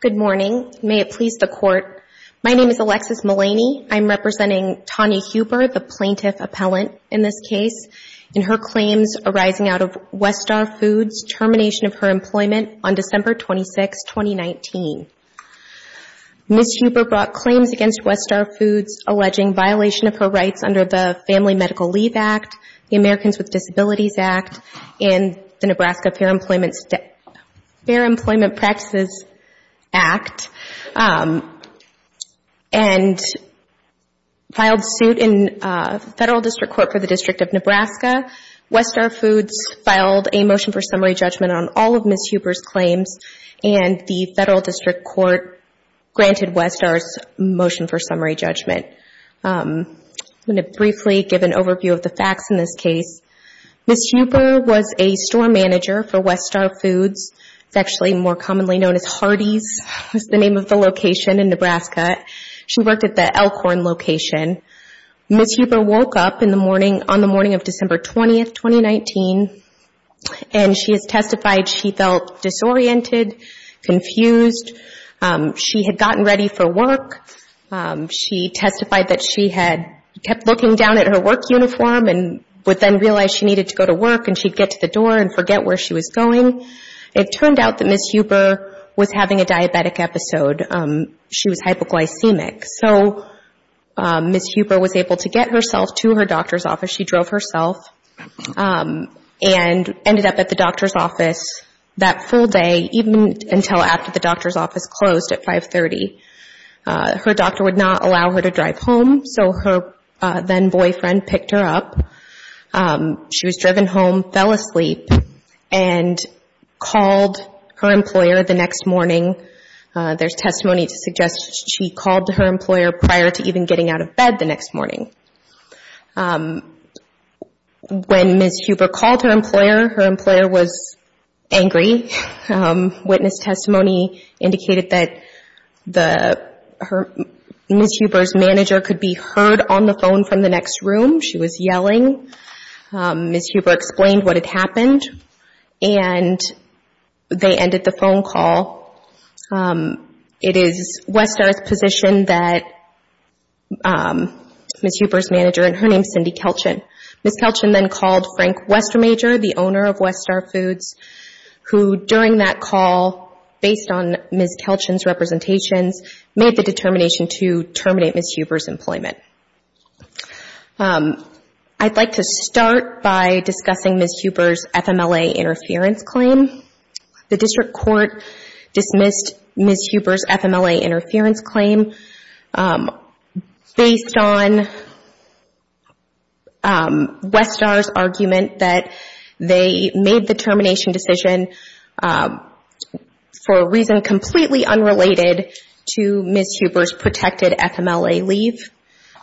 Good morning. May it please the Court, my name is Alexis Mullaney. I'm representing Tanya Huber, the plaintiff appellant in this case, in her claims arising out of Westar Foods' termination of her employment on December 26, 2019. Ms. Huber brought claims against Westar Foods alleging violation of her rights under the Family Medical Leave Act, the Americans with Disabilities Act, and the Nebraska Fair Employment Practices Act, and filed suit in Federal District Court for the District of Nebraska. Westar Foods filed a motion for summary judgment on all of Ms. Huber's claims, and the Federal District Court granted Westar's motion for summary judgment. I'm going to briefly give an overview of the facts in this case. Ms. Huber was a store manager for Westar Foods, it's actually more commonly known as Hardee's is the name of the location in Nebraska. She worked at the Elkhorn location. Ms. Huber woke up on the morning of December 20, 2019, and she has testified she felt disoriented, confused. She had gotten ready for work. She testified that she had kept looking down at her work uniform, and would then realize she needed to go to work, and she'd get to the door and forget where she was going. It turned out that Ms. Huber was having a diabetic episode. She was hypoglycemic, so Ms. Huber was able to get herself to her doctor's office. She drove herself, and ended up at the doctor's office that full day, even until after the doctor's office closed at 5.30. Her doctor would not allow her to drive home, so her then-boyfriend picked her up. She was driven home, fell asleep, and called her employer the next morning. There's testimony to suggest she called her employer prior to even getting out of bed the next morning. When Ms. Huber called her employer, her employer was angry. Witness testimony indicated that Ms. Huber's manager could be heard on the phone from the next room. She was yelling. Ms. Huber explained what had happened, and they ended the phone call. It is Westar's position that Ms. Huber's manager, and her name is Cindy Kelchin, Ms. Kelchin then called Frank Westermajor, the owner of Westar Foods, who during that call, based on Ms. Kelchin's representations, made the determination to terminate Ms. Huber's employment. I'd like to start by discussing Ms. Huber's FMLA interference claim. The district court dismissed Ms. Huber's FMLA interference claim based on Westar's argument that they made the termination decision for a reason completely unrelated to Ms. Huber's protected FMLA leave,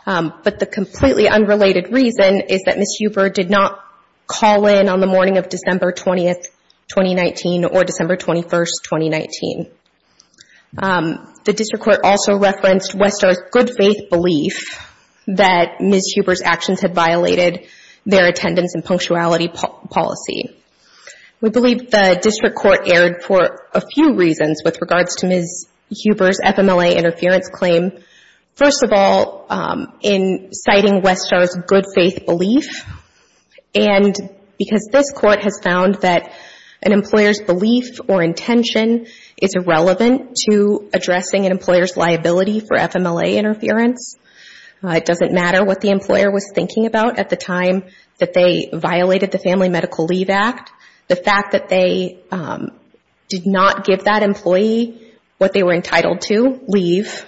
but the completely unrelated reason is that Ms. Huber did not call in on the morning of December 20th, 2019, or December 21st, 2019. The district court also referenced Westar's good faith belief that Ms. Huber's actions had violated their attendance and punctuality policy. We believe the district court erred for a few reasons with regards to Ms. Huber's FMLA This court has found that an employer's belief or intention is irrelevant to addressing an employer's liability for FMLA interference. It doesn't matter what the employer was thinking about at the time that they violated the Family Medical Leave Act. The fact that they did not give that employee what they were entitled to, leave,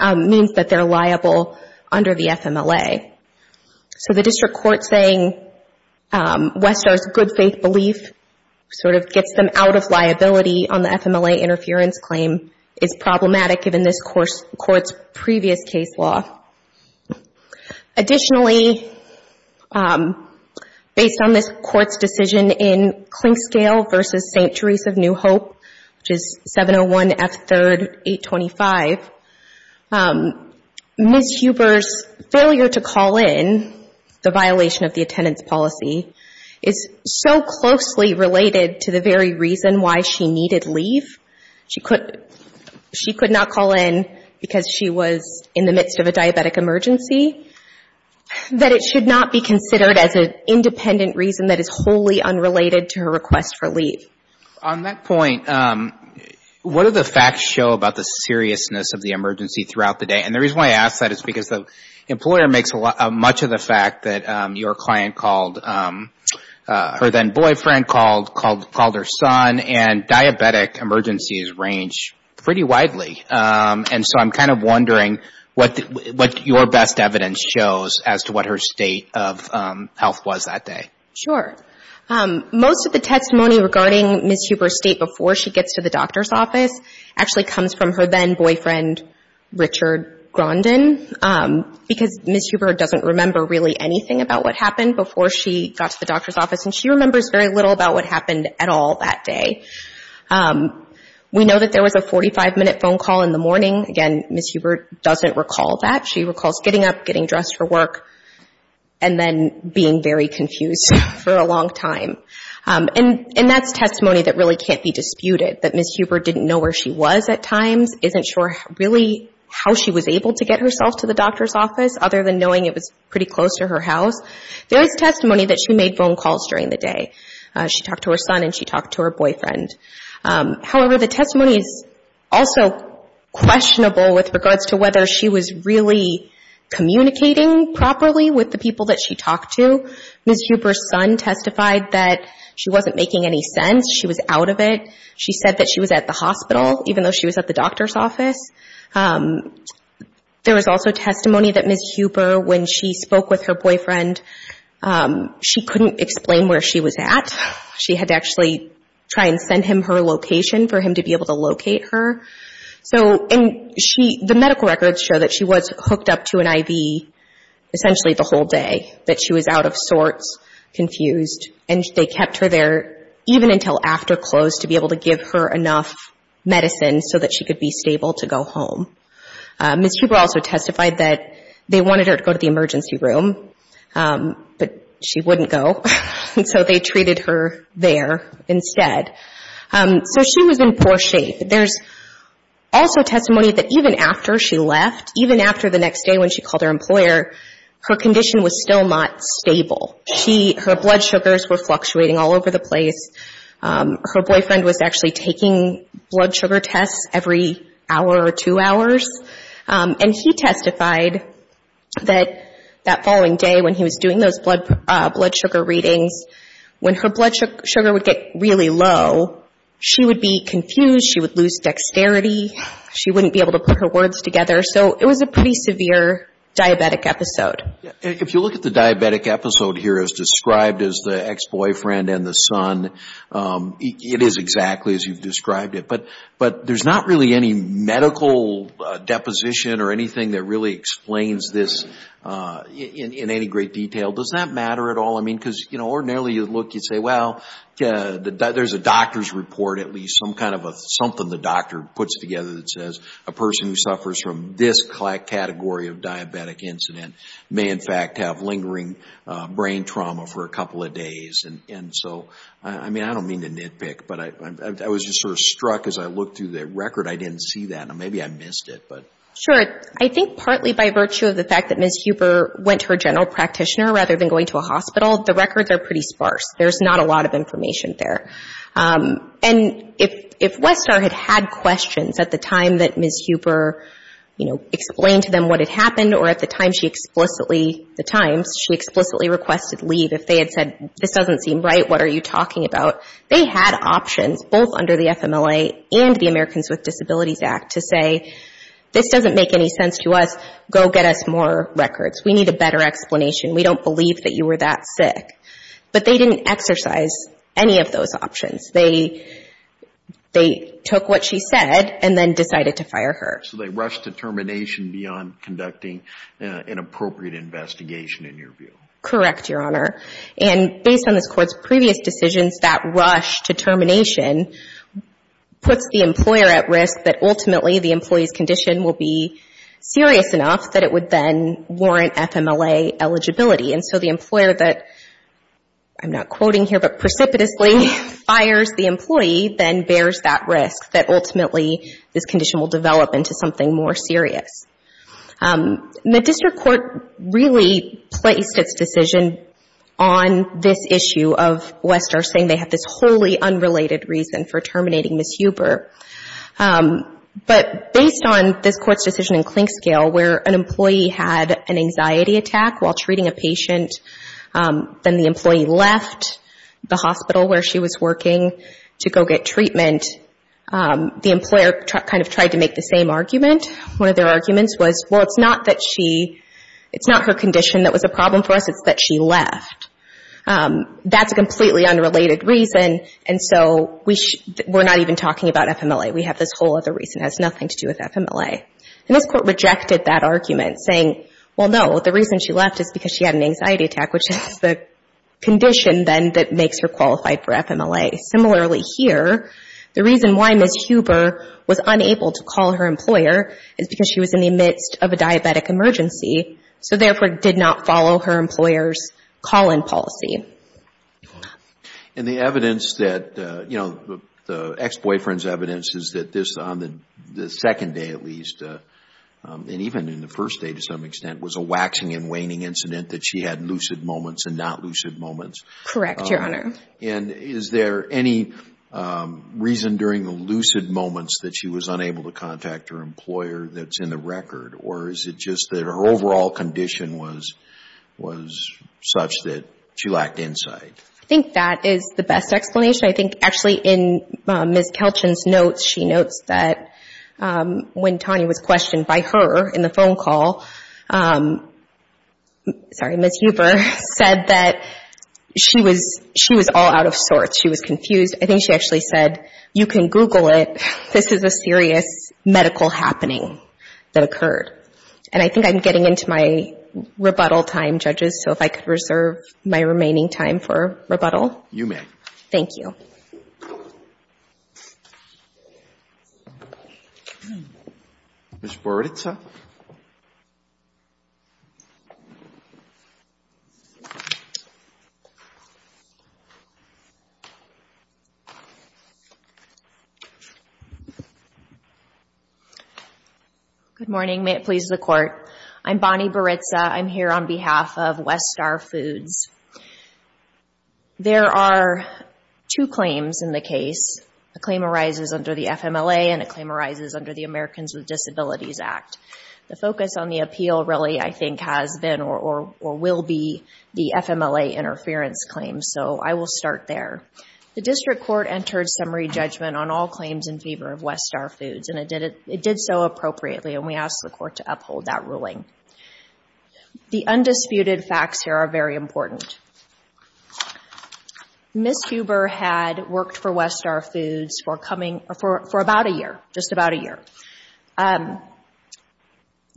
means that they're liable under the FMLA. So the district court saying Westar's good faith belief sort of gets them out of liability on the FMLA interference claim is problematic given this court's previous case law. Additionally, based on this court's decision in Clinkscale v. St. Therese of New Hope, which is 701 F. 3rd 825, Ms. Huber's failure to call in the violation of the attendance policy is so closely related to the very reason why she needed leave, she could not call in because she was in the midst of a diabetic emergency, that it should not be considered as an independent reason that is wholly unrelated to her request for leave. On that point, what do the facts show about the seriousness of the emergency throughout the day? And the reason why I ask that is because the employer makes much of the fact that your client called, her then boyfriend called, called her son, and diabetic emergencies range pretty widely. And so I'm kind of wondering what your best evidence shows as to what her state of health was that day. Sure. Most of the testimony regarding Ms. Huber's state before she gets to the doctor's office actually comes from her then boyfriend, Richard Grondon, because Ms. Huber doesn't remember really anything about what happened before she got to the doctor's office and she remembers very little about what happened at all that day. We know that there was a 45-minute phone call in the morning. Again, Ms. Huber doesn't recall that. She recalls getting up, getting dressed for work, and then being very confused for a long time. And that's testimony that really can't be disputed, that Ms. Huber didn't know where she was at times, isn't sure really how she was able to get herself to the doctor's office other than knowing it was pretty close to her house. There's testimony that she made phone calls during the day. She talked to her son and she talked to her boyfriend. However, the testimony is also questionable with regards to whether she was really communicating properly with the people that she talked to. Ms. Huber's son testified that she wasn't making any sense. She was out of it. She said that she was at the hospital, even though she was at the doctor's office. There was also testimony that Ms. Huber, when she spoke with her boyfriend, she couldn't explain where she was at. She had to actually try and send him her location for him to be able to locate her. So, and she, the medical records show that she was hooked up to an IV essentially the whole day, that she was out of sorts, confused, and they kept her there even until after close to be able to give her enough medicine so that she could be stable to go home. Ms. Huber also testified that they wanted her to go to the emergency room, but she wouldn't go, and so they treated her there instead. So she was in poor shape. There's also testimony that even after she left, even after the next day when she called her employer, her condition was still not stable. Her blood sugars were fluctuating all over the place. Her boyfriend was actually taking blood sugar tests every hour or two hours, and he testified that that following day when he was doing those blood sugar readings, when her blood sugar would get really low, she would be confused. She would lose dexterity. She wouldn't be able to put her words together. So it was a pretty severe diabetic episode. If you look at the diabetic episode here as described as the ex-boyfriend and the son, it is exactly as you've described it, but there's not really any medical deposition or anything that really explains this in any great detail. Does that matter at all? I mean, because ordinarily you'd look, you'd say, well, there's a doctor's report, at least, some kind of a something the doctor puts together that says a person who suffers from this category of diabetic incident may in fact have lingering brain trauma for a couple of days. And so, I mean, I don't mean to nitpick, but I was just sort of struck as I looked through the record. I didn't see that, and maybe I missed it, but... Sure. I think partly by virtue of the fact that Ms. Huber went to her general practitioner rather than going to a hospital, the records are pretty sparse. There's not a lot of information there. And if Westar had had questions at the time that Ms. Huber, you know, explained to them what had happened or at the time she explicitly, the times, she explicitly requested leave if they had said, this doesn't seem right, what are you talking about, they had options both under the FMLA and the Americans with Disabilities Act to say, this doesn't make any sense to us, go get us more records. We need a better explanation. We don't believe that you were that sick. But they didn't exercise any of those options. They took what she said and then decided to fire her. So they rushed to termination beyond conducting an appropriate investigation, in your view? Correct, Your Honor. And based on this Court's previous decisions, that rush to termination puts the employer at risk that ultimately the employee's condition will be serious enough that it would then warrant FMLA eligibility. And so the employer that, I'm not quoting here, but precipitously fires the employee, then bears that risk that ultimately this condition will develop into something more serious. The District Court really placed its decision on this issue of Westar saying they have this completely unrelated reason for terminating Ms. Huber. But based on this Court's decision in Clinkscale where an employee had an anxiety attack while treating a patient, then the employee left the hospital where she was working to go get treatment, the employer kind of tried to make the same argument. One of their arguments was, well, it's not that she, it's not her condition that was a problem for us, it's that she left. That's a completely unrelated reason. And so we're not even talking about FMLA. We have this whole other reason. It has nothing to do with FMLA. And this Court rejected that argument, saying, well, no, the reason she left is because she had an anxiety attack, which is the condition then that makes her qualified for FMLA. Similarly here, the reason why Ms. Huber was unable to call her employer is because she was in the midst of a diabetic emergency, so therefore did not follow her employer's call-in policy. And the evidence that, you know, the ex-boyfriend's evidence is that this, on the second day at least, and even in the first day to some extent, was a waxing and waning incident that she had lucid moments and not lucid moments. Correct, Your Honor. And is there any reason during the lucid moments that she was unable to contact her employer that's in the record? Or is it just that her overall condition was such that she lacked insight? I think that is the best explanation. I think actually in Ms. Kelchins' notes, she notes that when Tanya was questioned by her in the phone call, Ms. Huber said that she was all out of sorts. She was confused. I think she actually said, you can Google it. This is a serious medical happening that occurred. And I think I'm getting into my rebuttal time, Judges, so if I could reserve my remaining time for rebuttal. You may. Thank you. Ms. Boroditsa. Good morning. May it please the Court. I'm Bonnie Boroditsa. I'm here on behalf of West Star Foods. There are two claims in the case. A claim arises under the FMLA and a claim arises under the Americans with Disabilities Act. The focus on the appeal really I think has been or will be the FMLA interference claim, so I will start there. The District Court entered summary judgment on all claims in favor of West Star Foods, and it did so appropriately, and we asked the Court to uphold that ruling. The undisputed facts here are very important. Ms. Huber had worked for West Star Foods for about a year, just about a year.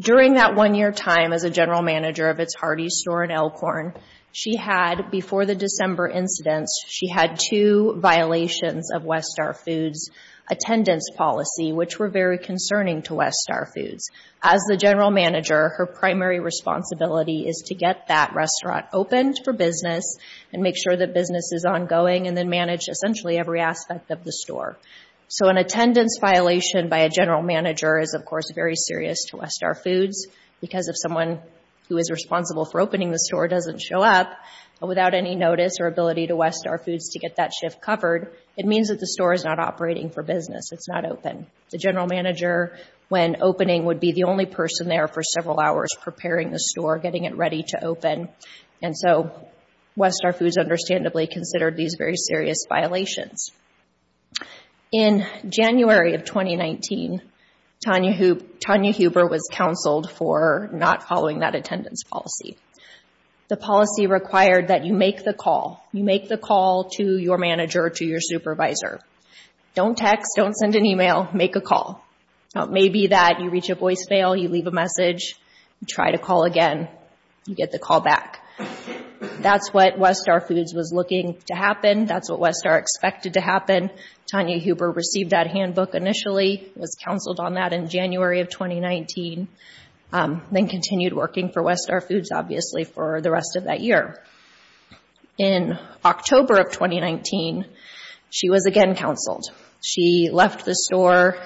During that one-year time as a general manager of its Hardee's store in Elkhorn, she had, before the December incidents, she had two violations of West Star Foods attendance policy, which were very concerning to West Star Foods. As the general manager, her primary responsibility is to get that restaurant opened for business and make sure that business is ongoing, and then manage essentially every aspect of the store. So an attendance violation by a general manager is, of course, very serious to West Star Foods because if someone who is responsible for opening the store doesn't show up without any notice or ability to West Star Foods to get that shift covered, it means that the store is not operating for business. It's not open. The general manager, when opening, would be the only person there for several hours preparing the store, getting it ready to open, and so West Star Foods understandably considered these very serious violations. In January of 2019, Tanya Huber was counseled for not following that attendance policy. The policy required that you make the call. You make the call to your manager, to your supervisor. Don't text, don't send an email, make a call. Now it may be that you reach a voice fail, you leave a message, you try to call again, you get the call back. That's what West Star Foods was looking to happen. That's what West Star expected to happen. Tanya Huber received that handbook initially, was counseled on that in January of 2019, then continued working for West Star Foods, obviously, for the rest of that year. In October of 2019, she was again counseled. She left the store,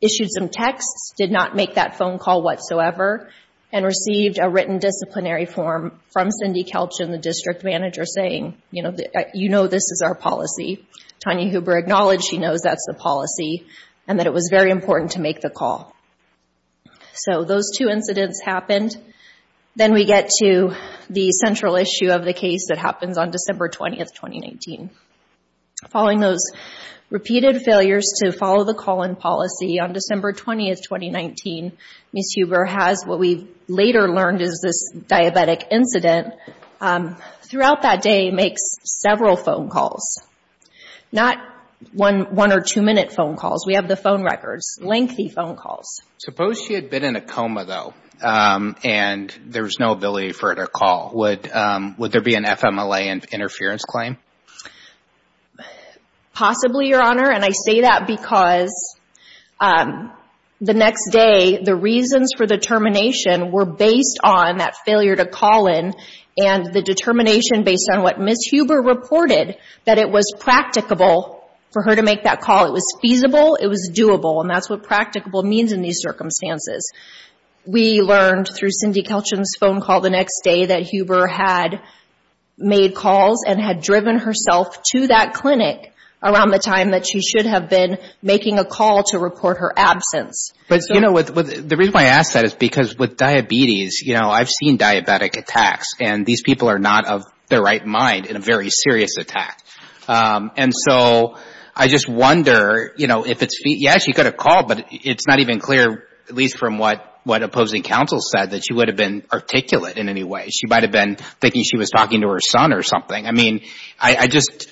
issued some texts, did not make that phone call whatsoever, and received a written disciplinary form from Cindy Kelch and the district manager saying, you know this is our policy. Tanya Huber acknowledged she knows that's the policy and that it was very important to make the call. So those two incidents happened. Then we get to the central issue of the case that happens on December 20th, 2019. Following those repeated failures to follow the call-in policy, on December 20th, 2019, Ms. Huber has what we later learned is this diabetic incident. Throughout that day, makes several phone calls. Not one or two minute phone calls. We have the phone records. Lengthy phone calls. Suppose she had been in a coma, though, and there was no ability for her to call. Would there be an FMLA interference claim? Possibly, Your Honor, and I say that because the next day, the reasons for the termination were based on that failure to call in and the determination based on what Ms. Huber reported that it was practicable for her to make that call. It was feasible, it was doable, and that's what practicable means in these circumstances. We learned through Cindy Kelch's phone call the next day that Huber had made calls and had driven herself to that clinic around the time that she should have been making a call to report her absence. The reason I ask that is because with diabetes, I've seen diabetic attacks, and these people are not of the right mind in a very serious attack. I just wonder, yes, she could have called, but it's not even clear, at least from what opposing counsel said, that she would have been articulate in any way. She might have been thinking she was talking to her son or something. I mean, I just,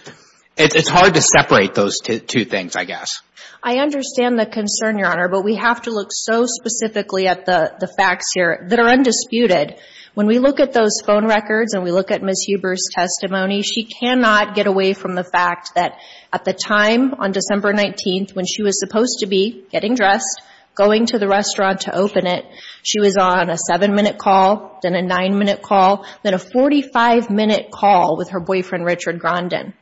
it's hard to separate those two things, I guess. I understand the concern, Your Honor, but we have to look so specifically at the facts here that are undisputed. When we look at those phone records and we look at Ms. Huber's testimony, she cannot get away from the fact that at the time on December 19th, when she was supposed to be getting dressed, going to the restaurant to open it, she was on a 7-minute call, then a 9-minute call, then a 45-minute call with her boyfriend, Richard Grondin.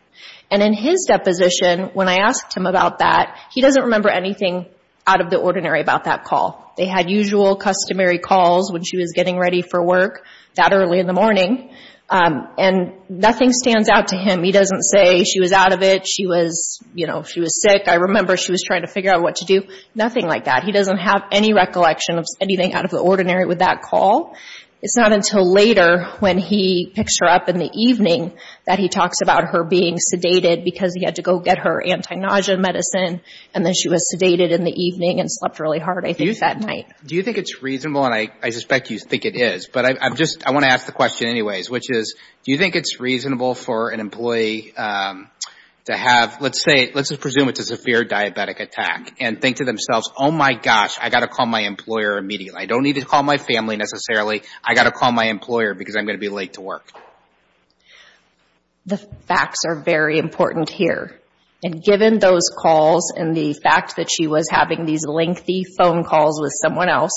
And in his deposition, when I asked him about that, he doesn't remember anything out of the ordinary about that call. They had usual, customary calls when she was getting ready for work that early in the morning, and nothing stands out to him. He doesn't say she was out of it, she was, you know, she was sick. I remember she was trying to figure out what to do. Nothing like that. He doesn't have any recollection of anything out of the ordinary with that call. It's not until later when he picks her up in the evening that he talks about her being sedated because he had to go get her anti-nausea medicine, and then she was sedated in the evening and slept really hard, I think, that night. Do you think it's reasonable, and I suspect you think it is, but I just want to ask the question anyways, which is, do you think it's reasonable for an employee to have, let's say, let's presume it's a severe diabetic attack, and think to themselves, oh my gosh, I've got to call my employer immediately. I don't need to call my family necessarily. I've got to call my employer because I'm going to be late to work. The facts are very important here, and given those calls and the fact that she was having these lengthy phone calls with someone else,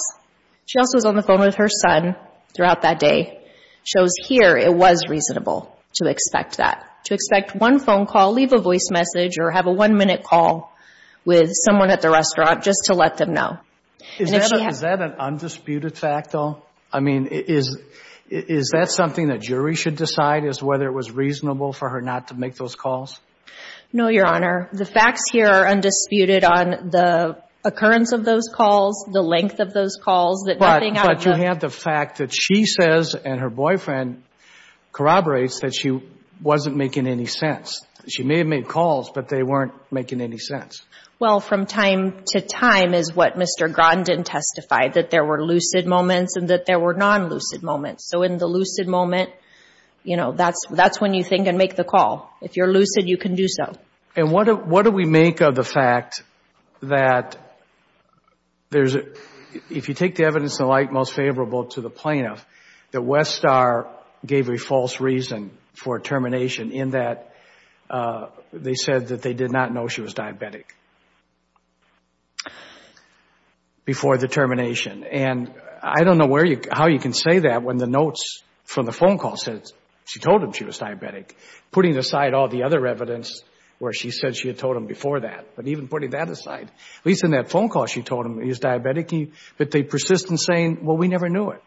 she also was on the phone with her son throughout that day, shows here it was reasonable to expect that. To expect one phone call, leave a voice message, or have a one minute call with someone at the restaurant just to let them know. Is that an undisputed fact, though? I mean, is that something the jury should decide, is whether it was reasonable for her not to make those calls? No, Your Honor. The facts here are undisputed on the occurrence of those calls, the length of those calls, that nothing out of the— But you have the fact that she says, and her boyfriend corroborates, that she wasn't making any sense. She may have made calls, but they weren't making any sense. Well, from time to time is what Mr. Grondin testified, that there were lucid moments and that there were non-lucid moments. So in the lucid moment, you know, that's when you think and make the call. If you're lucid, you can do so. And what do we make of the fact that there's—if you take the evidence and the like most favorable to the plaintiff, that Westar gave a false reason for termination in that they said that they did not know she was diabetic before the termination. And I don't know where you—how you can say that when the notes from the phone call says she told him she was diabetic, putting aside all the other evidence where she said she had told him before that. But even putting that aside, at least in that phone call she told him he was diabetic, but they persist in saying, well, we never knew it.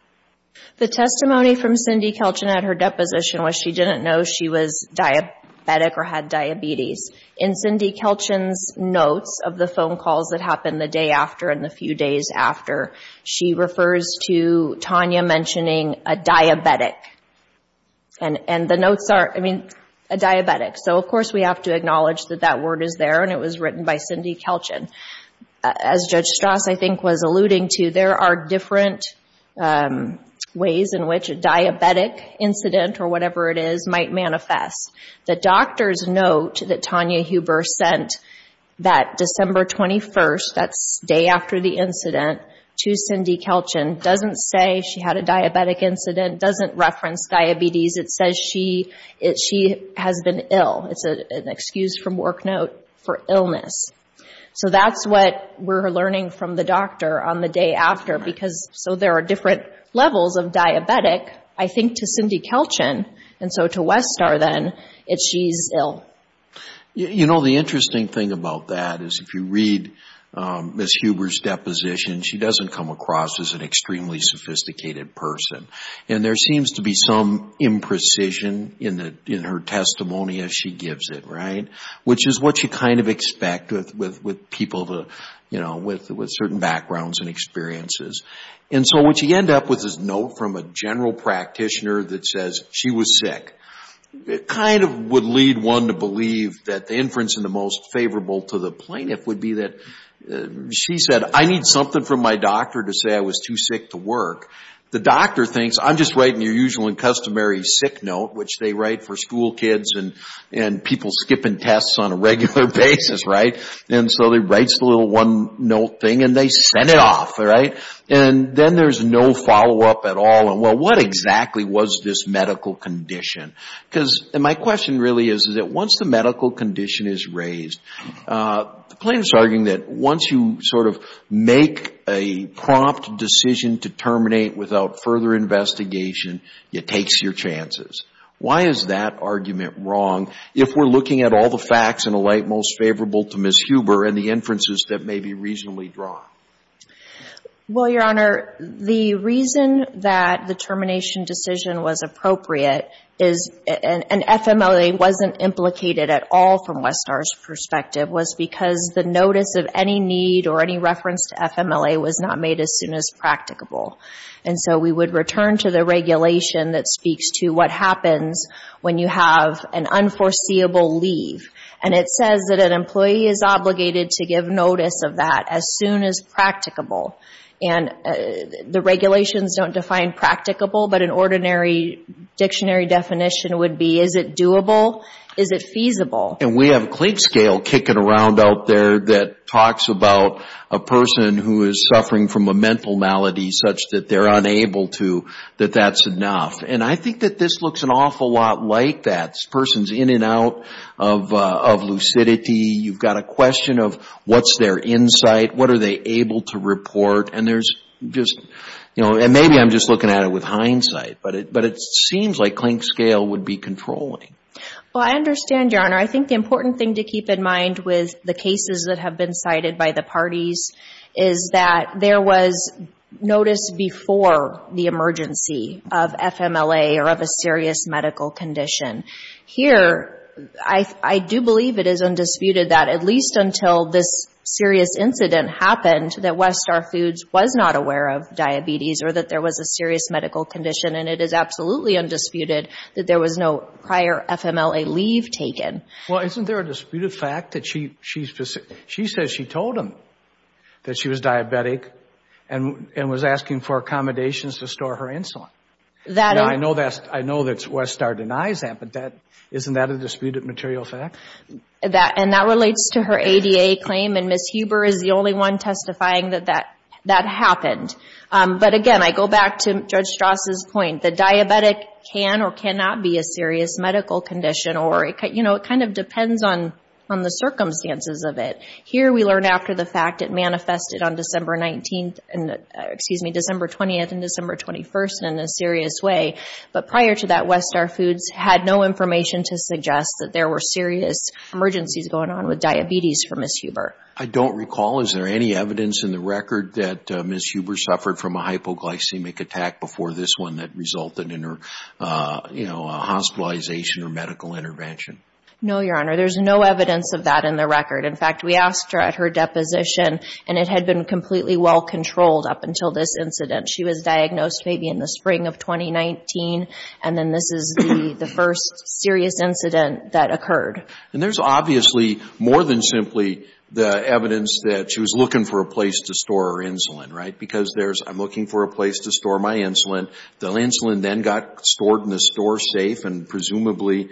The testimony from Cindy Kelchin at her deposition was she didn't know she was diabetic or had diabetes. In Cindy Kelchin's notes of the phone calls that happened the day after and the few days after, she refers to Tanya mentioning a diabetic. And the notes are—I mean, a diabetic. So of course we have to acknowledge that that word is there and it was written by Cindy Kelchin. As Judge Strasz, I think, was alluding to, there are different ways in which a diabetic incident or whatever it is might manifest. The doctor's note that Tanya Huber sent that December 21st—that's the day after the incident—to Cindy Kelchin doesn't say she had a diabetic incident, doesn't reference diabetes. It says she has been ill. It's an excuse from work note for illness. So that's what we're learning from the doctor on the day after. So there are different levels of diabetic, I think, to Cindy Kelchin. And so to Westar then, it's she's ill. You know, the interesting thing about that is if you read Ms. Huber's deposition, she doesn't come across as an extremely sophisticated person. And there seems to be some imprecision in her testimony as she gives it, right? Which is what you kind of expect with people with certain backgrounds and experiences. And so what you end up with is a note from a general practitioner that says she was sick. It kind of would lead one to believe that the inference in the most favorable to the plaintiff would be that she said, I need something from my doctor to say I was too sick to work. The doctor thinks I'm just writing your usual and customary sick note, which they write for school kids and people skipping tests on a regular basis, right? And so he writes the little one-note thing and they send it off, right? And then there's no follow-up at all. Well, what exactly was this medical condition? Because my question really is, is that once the medical condition is raised, the plaintiff is arguing that once you sort of make a prompt decision to terminate without further investigation, it takes your chances. Why is that argument wrong if we're looking at all the facts in a light most favorable to Ms. Huber and the inferences that may be reasonably drawn? Well, Your Honor, the reason that the termination decision was appropriate is an FMLA wasn't implicated at all from Westar's perspective was because the notice of any need or any reference to FMLA was not made as soon as practicable. And so we would return to the regulation that speaks to what happens when you have an unforeseeable leave. And it says that an employee is obligated to give notice of that as soon as practicable. And the regulations don't define practicable, but an ordinary dictionary definition would be, is it doable? Is it feasible? And we have a clique scale kicking around out there that talks about a person who is suffering from a mental malady such that they're unable to, that that's enough. And I think that this looks an awful lot like that. This person's in and out of lucidity. You've got a question of what's their insight? What are they able to report? And there's just, you know, and maybe I'm just looking at it with hindsight, but it seems like clink scale would be controlling. Well, I understand, Your Honor. I think the important thing to keep in mind with the cases that have been cited by the parties is that there was notice before the emergency of FMLA or of a serious medical condition. Here, I do believe it is undisputed that, at least until this serious incident happened, that West Star Foods was not aware of diabetes or that there was a serious medical condition. And it is absolutely undisputed that there was no prior FMLA leave taken. Well, isn't there a disputed fact that she says she told him that she was diabetic and was asking for accommodations to store her insulin? I know that West Star denies that, but isn't that a disputed material fact? And that relates to her ADA claim, and Ms. Huber is the only one testifying that that happened. But again, I go back to Judge Strauss' point. The diabetic can or cannot be a serious medical condition or, you know, it kind of depends on the circumstances of it. Here, we learn after the fact. It manifested on December 19th, excuse me, December 20th and December 21st in a serious way. But prior to that, West Star Foods had no information to suggest that there were serious emergencies going on with diabetes for Ms. Huber. I don't recall. Is there any evidence in the record that Ms. Huber suffered from a hypoglycemic attack before this one that resulted in her, you know, hospitalization or medical intervention? No, Your Honor. There's no evidence of that in the record. In fact, we asked her at her first incident. She was diagnosed maybe in the spring of 2019, and then this is the first serious incident that occurred. And there's obviously more than simply the evidence that she was looking for a place to store her insulin, right? Because there's, I'm looking for a place to store my insulin. The insulin then got stored in the store safe and presumably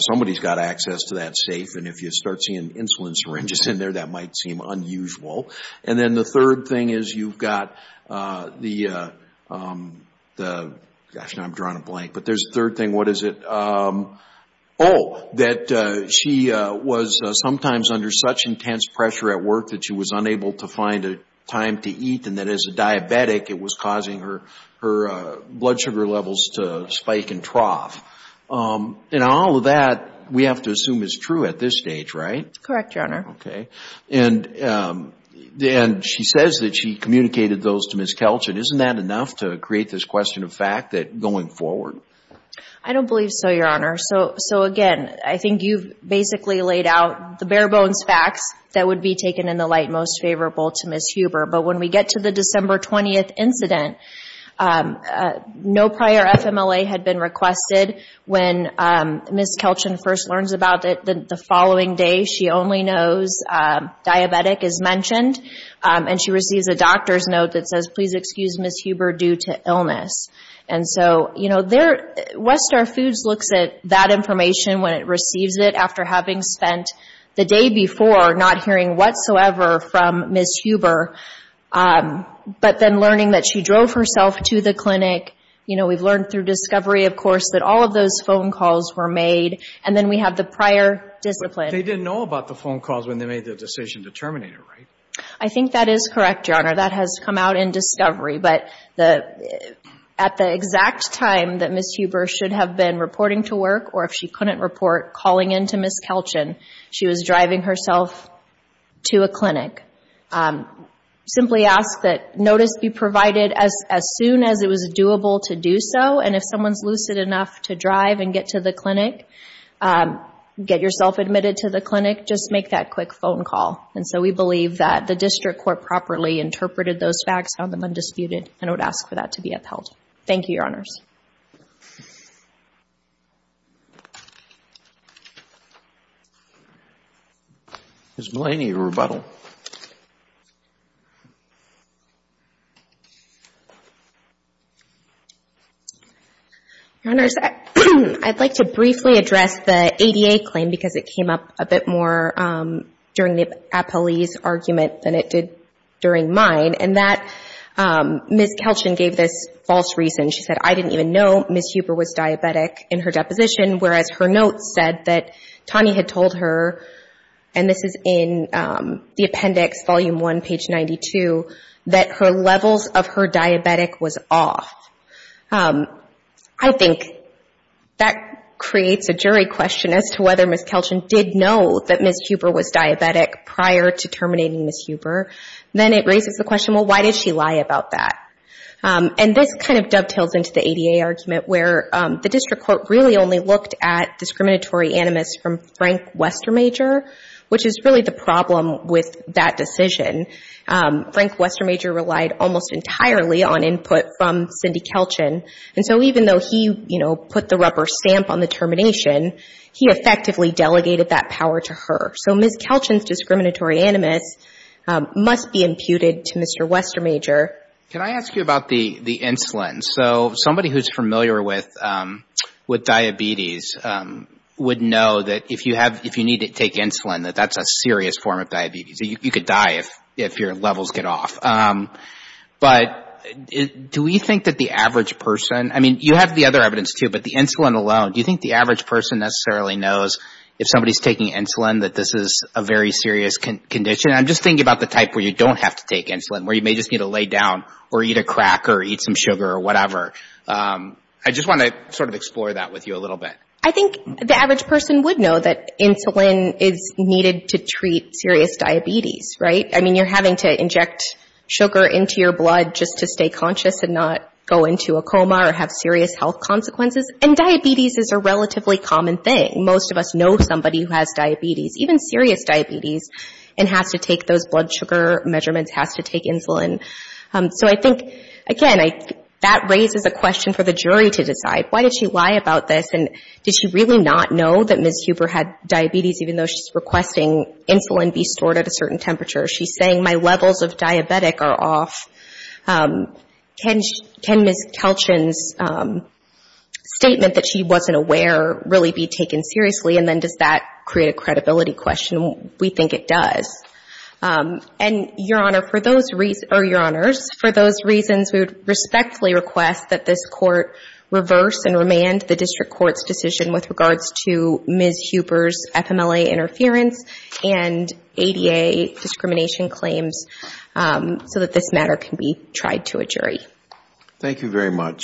somebody's got access to that safe and if you start seeing insulin syringes in there, that might seem unusual. And then the third thing is you've got the, gosh now I'm drawing a blank, but there's a third thing. What is it? Oh, that she was sometimes under such intense pressure at work that she was unable to find a time to eat and that as a diabetic, it was causing her blood sugar levels to spike and trough. And all of that, we have to assume is true at this stage, right? Correct, Your Honor. Okay. And she says that she communicated those to Ms. Kelchin. Isn't that enough to create this question of fact that going forward? I don't believe so, Your Honor. So again, I think you've basically laid out the bare bones facts that would be taken in the light most favorable to Ms. Huber. But when we get to the December 20th incident, no prior FMLA had been requested. When Ms. Kelchin first learns about it the following day, she only knows diabetic is mentioned. And she receives a doctor's note that says, please excuse Ms. Huber due to illness. And so, you know, West Star Foods looks at that information when it receives it after having spent the day before not hearing whatsoever from Ms. Huber. But then learning that she drove herself to the clinic, you know, we've learned through discovery, of course, that all of those phone calls were made. And then we have the prior discipline. But they didn't know about the phone calls when they made the decision to terminate her, right? I think that is correct, Your Honor. That has come out in discovery. But at the exact time that Ms. Huber should have been reporting to work or if she couldn't report calling in to Ms. Kelchin, she was driving herself to a clinic. Simply ask that notice be provided as soon as it was doable to do so. And if someone's lucid enough to drive and get to the clinic, get yourself admitted to the clinic, just make that quick phone call. And so, we believe that the district court properly interpreted those facts, found them undisputed, and would ask for that to be upheld. Thank you, Your Honors. Ms. Mullaney, your rebuttal. Your Honors, I'd like to briefly address the ADA claim because it came up a bit more during the appellee's argument than it did during mine. And that Ms. Kelchin gave this false reason. She said, I didn't even know Ms. Huber was diabetic in her deposition, whereas her notes said that Tani had told her, and this is in the appendix, volume 1, page 92, that her levels of her diabetic was off. I think that creates a jury question as to whether Ms. Kelchin did know that Ms. Huber was diabetic prior to terminating Ms. Huber. Then it raises the question, well, why did she lie about that? And this kind of dovetails into the ADA argument where the district court really only looked at discriminatory animus from Frank Westermajer, which is really the problem with that decision. Frank Westermajer relied almost entirely on input from Cindy Kelchin. And so, even though he, you know, put the rubber stamp on the termination, he effectively delegated that power to her. So, Ms. Kelchin's testimony to Mr. Westermajer. Can I ask you about the insulin? So, somebody who's familiar with diabetes would know that if you have, if you need to take insulin, that that's a serious form of diabetes. You could die if your levels get off. But do we think that the average person, I mean, you have the other evidence too, but the insulin alone, do you think the average person necessarily knows if somebody's taking insulin that this is a very serious condition? I'm just thinking about the type where you don't have to take insulin, where you may just need to lay down or eat a cracker or eat some sugar or whatever. I just want to sort of explore that with you a little bit. I think the average person would know that insulin is needed to treat serious diabetes, right? I mean, you're having to inject sugar into your blood just to stay conscious and not go into a coma or have serious health consequences. And diabetes is a relatively common thing. Most of us know somebody who has diabetes, even serious diabetes, and has to take those blood sugar measurements, has to take insulin. So I think, again, that raises a question for the jury to decide. Why did she lie about this? And did she really not know that Ms. Huber had diabetes, even though she's requesting insulin be stored at a certain temperature? She's saying my levels of diabetic are off. Can Ms. Kelchin's statement that she wasn't aware really be taken seriously? And then does that create a credibility question? We think it does. And, Your Honor, for those reasons, or Your Honors, for those reasons, we would respectfully request that this Court reverse and remand the District Court's decision with regards to Ms. Huber's FMLA interference and ADA discrimination claims so that this matter can be tried to a jury. Thank you very much.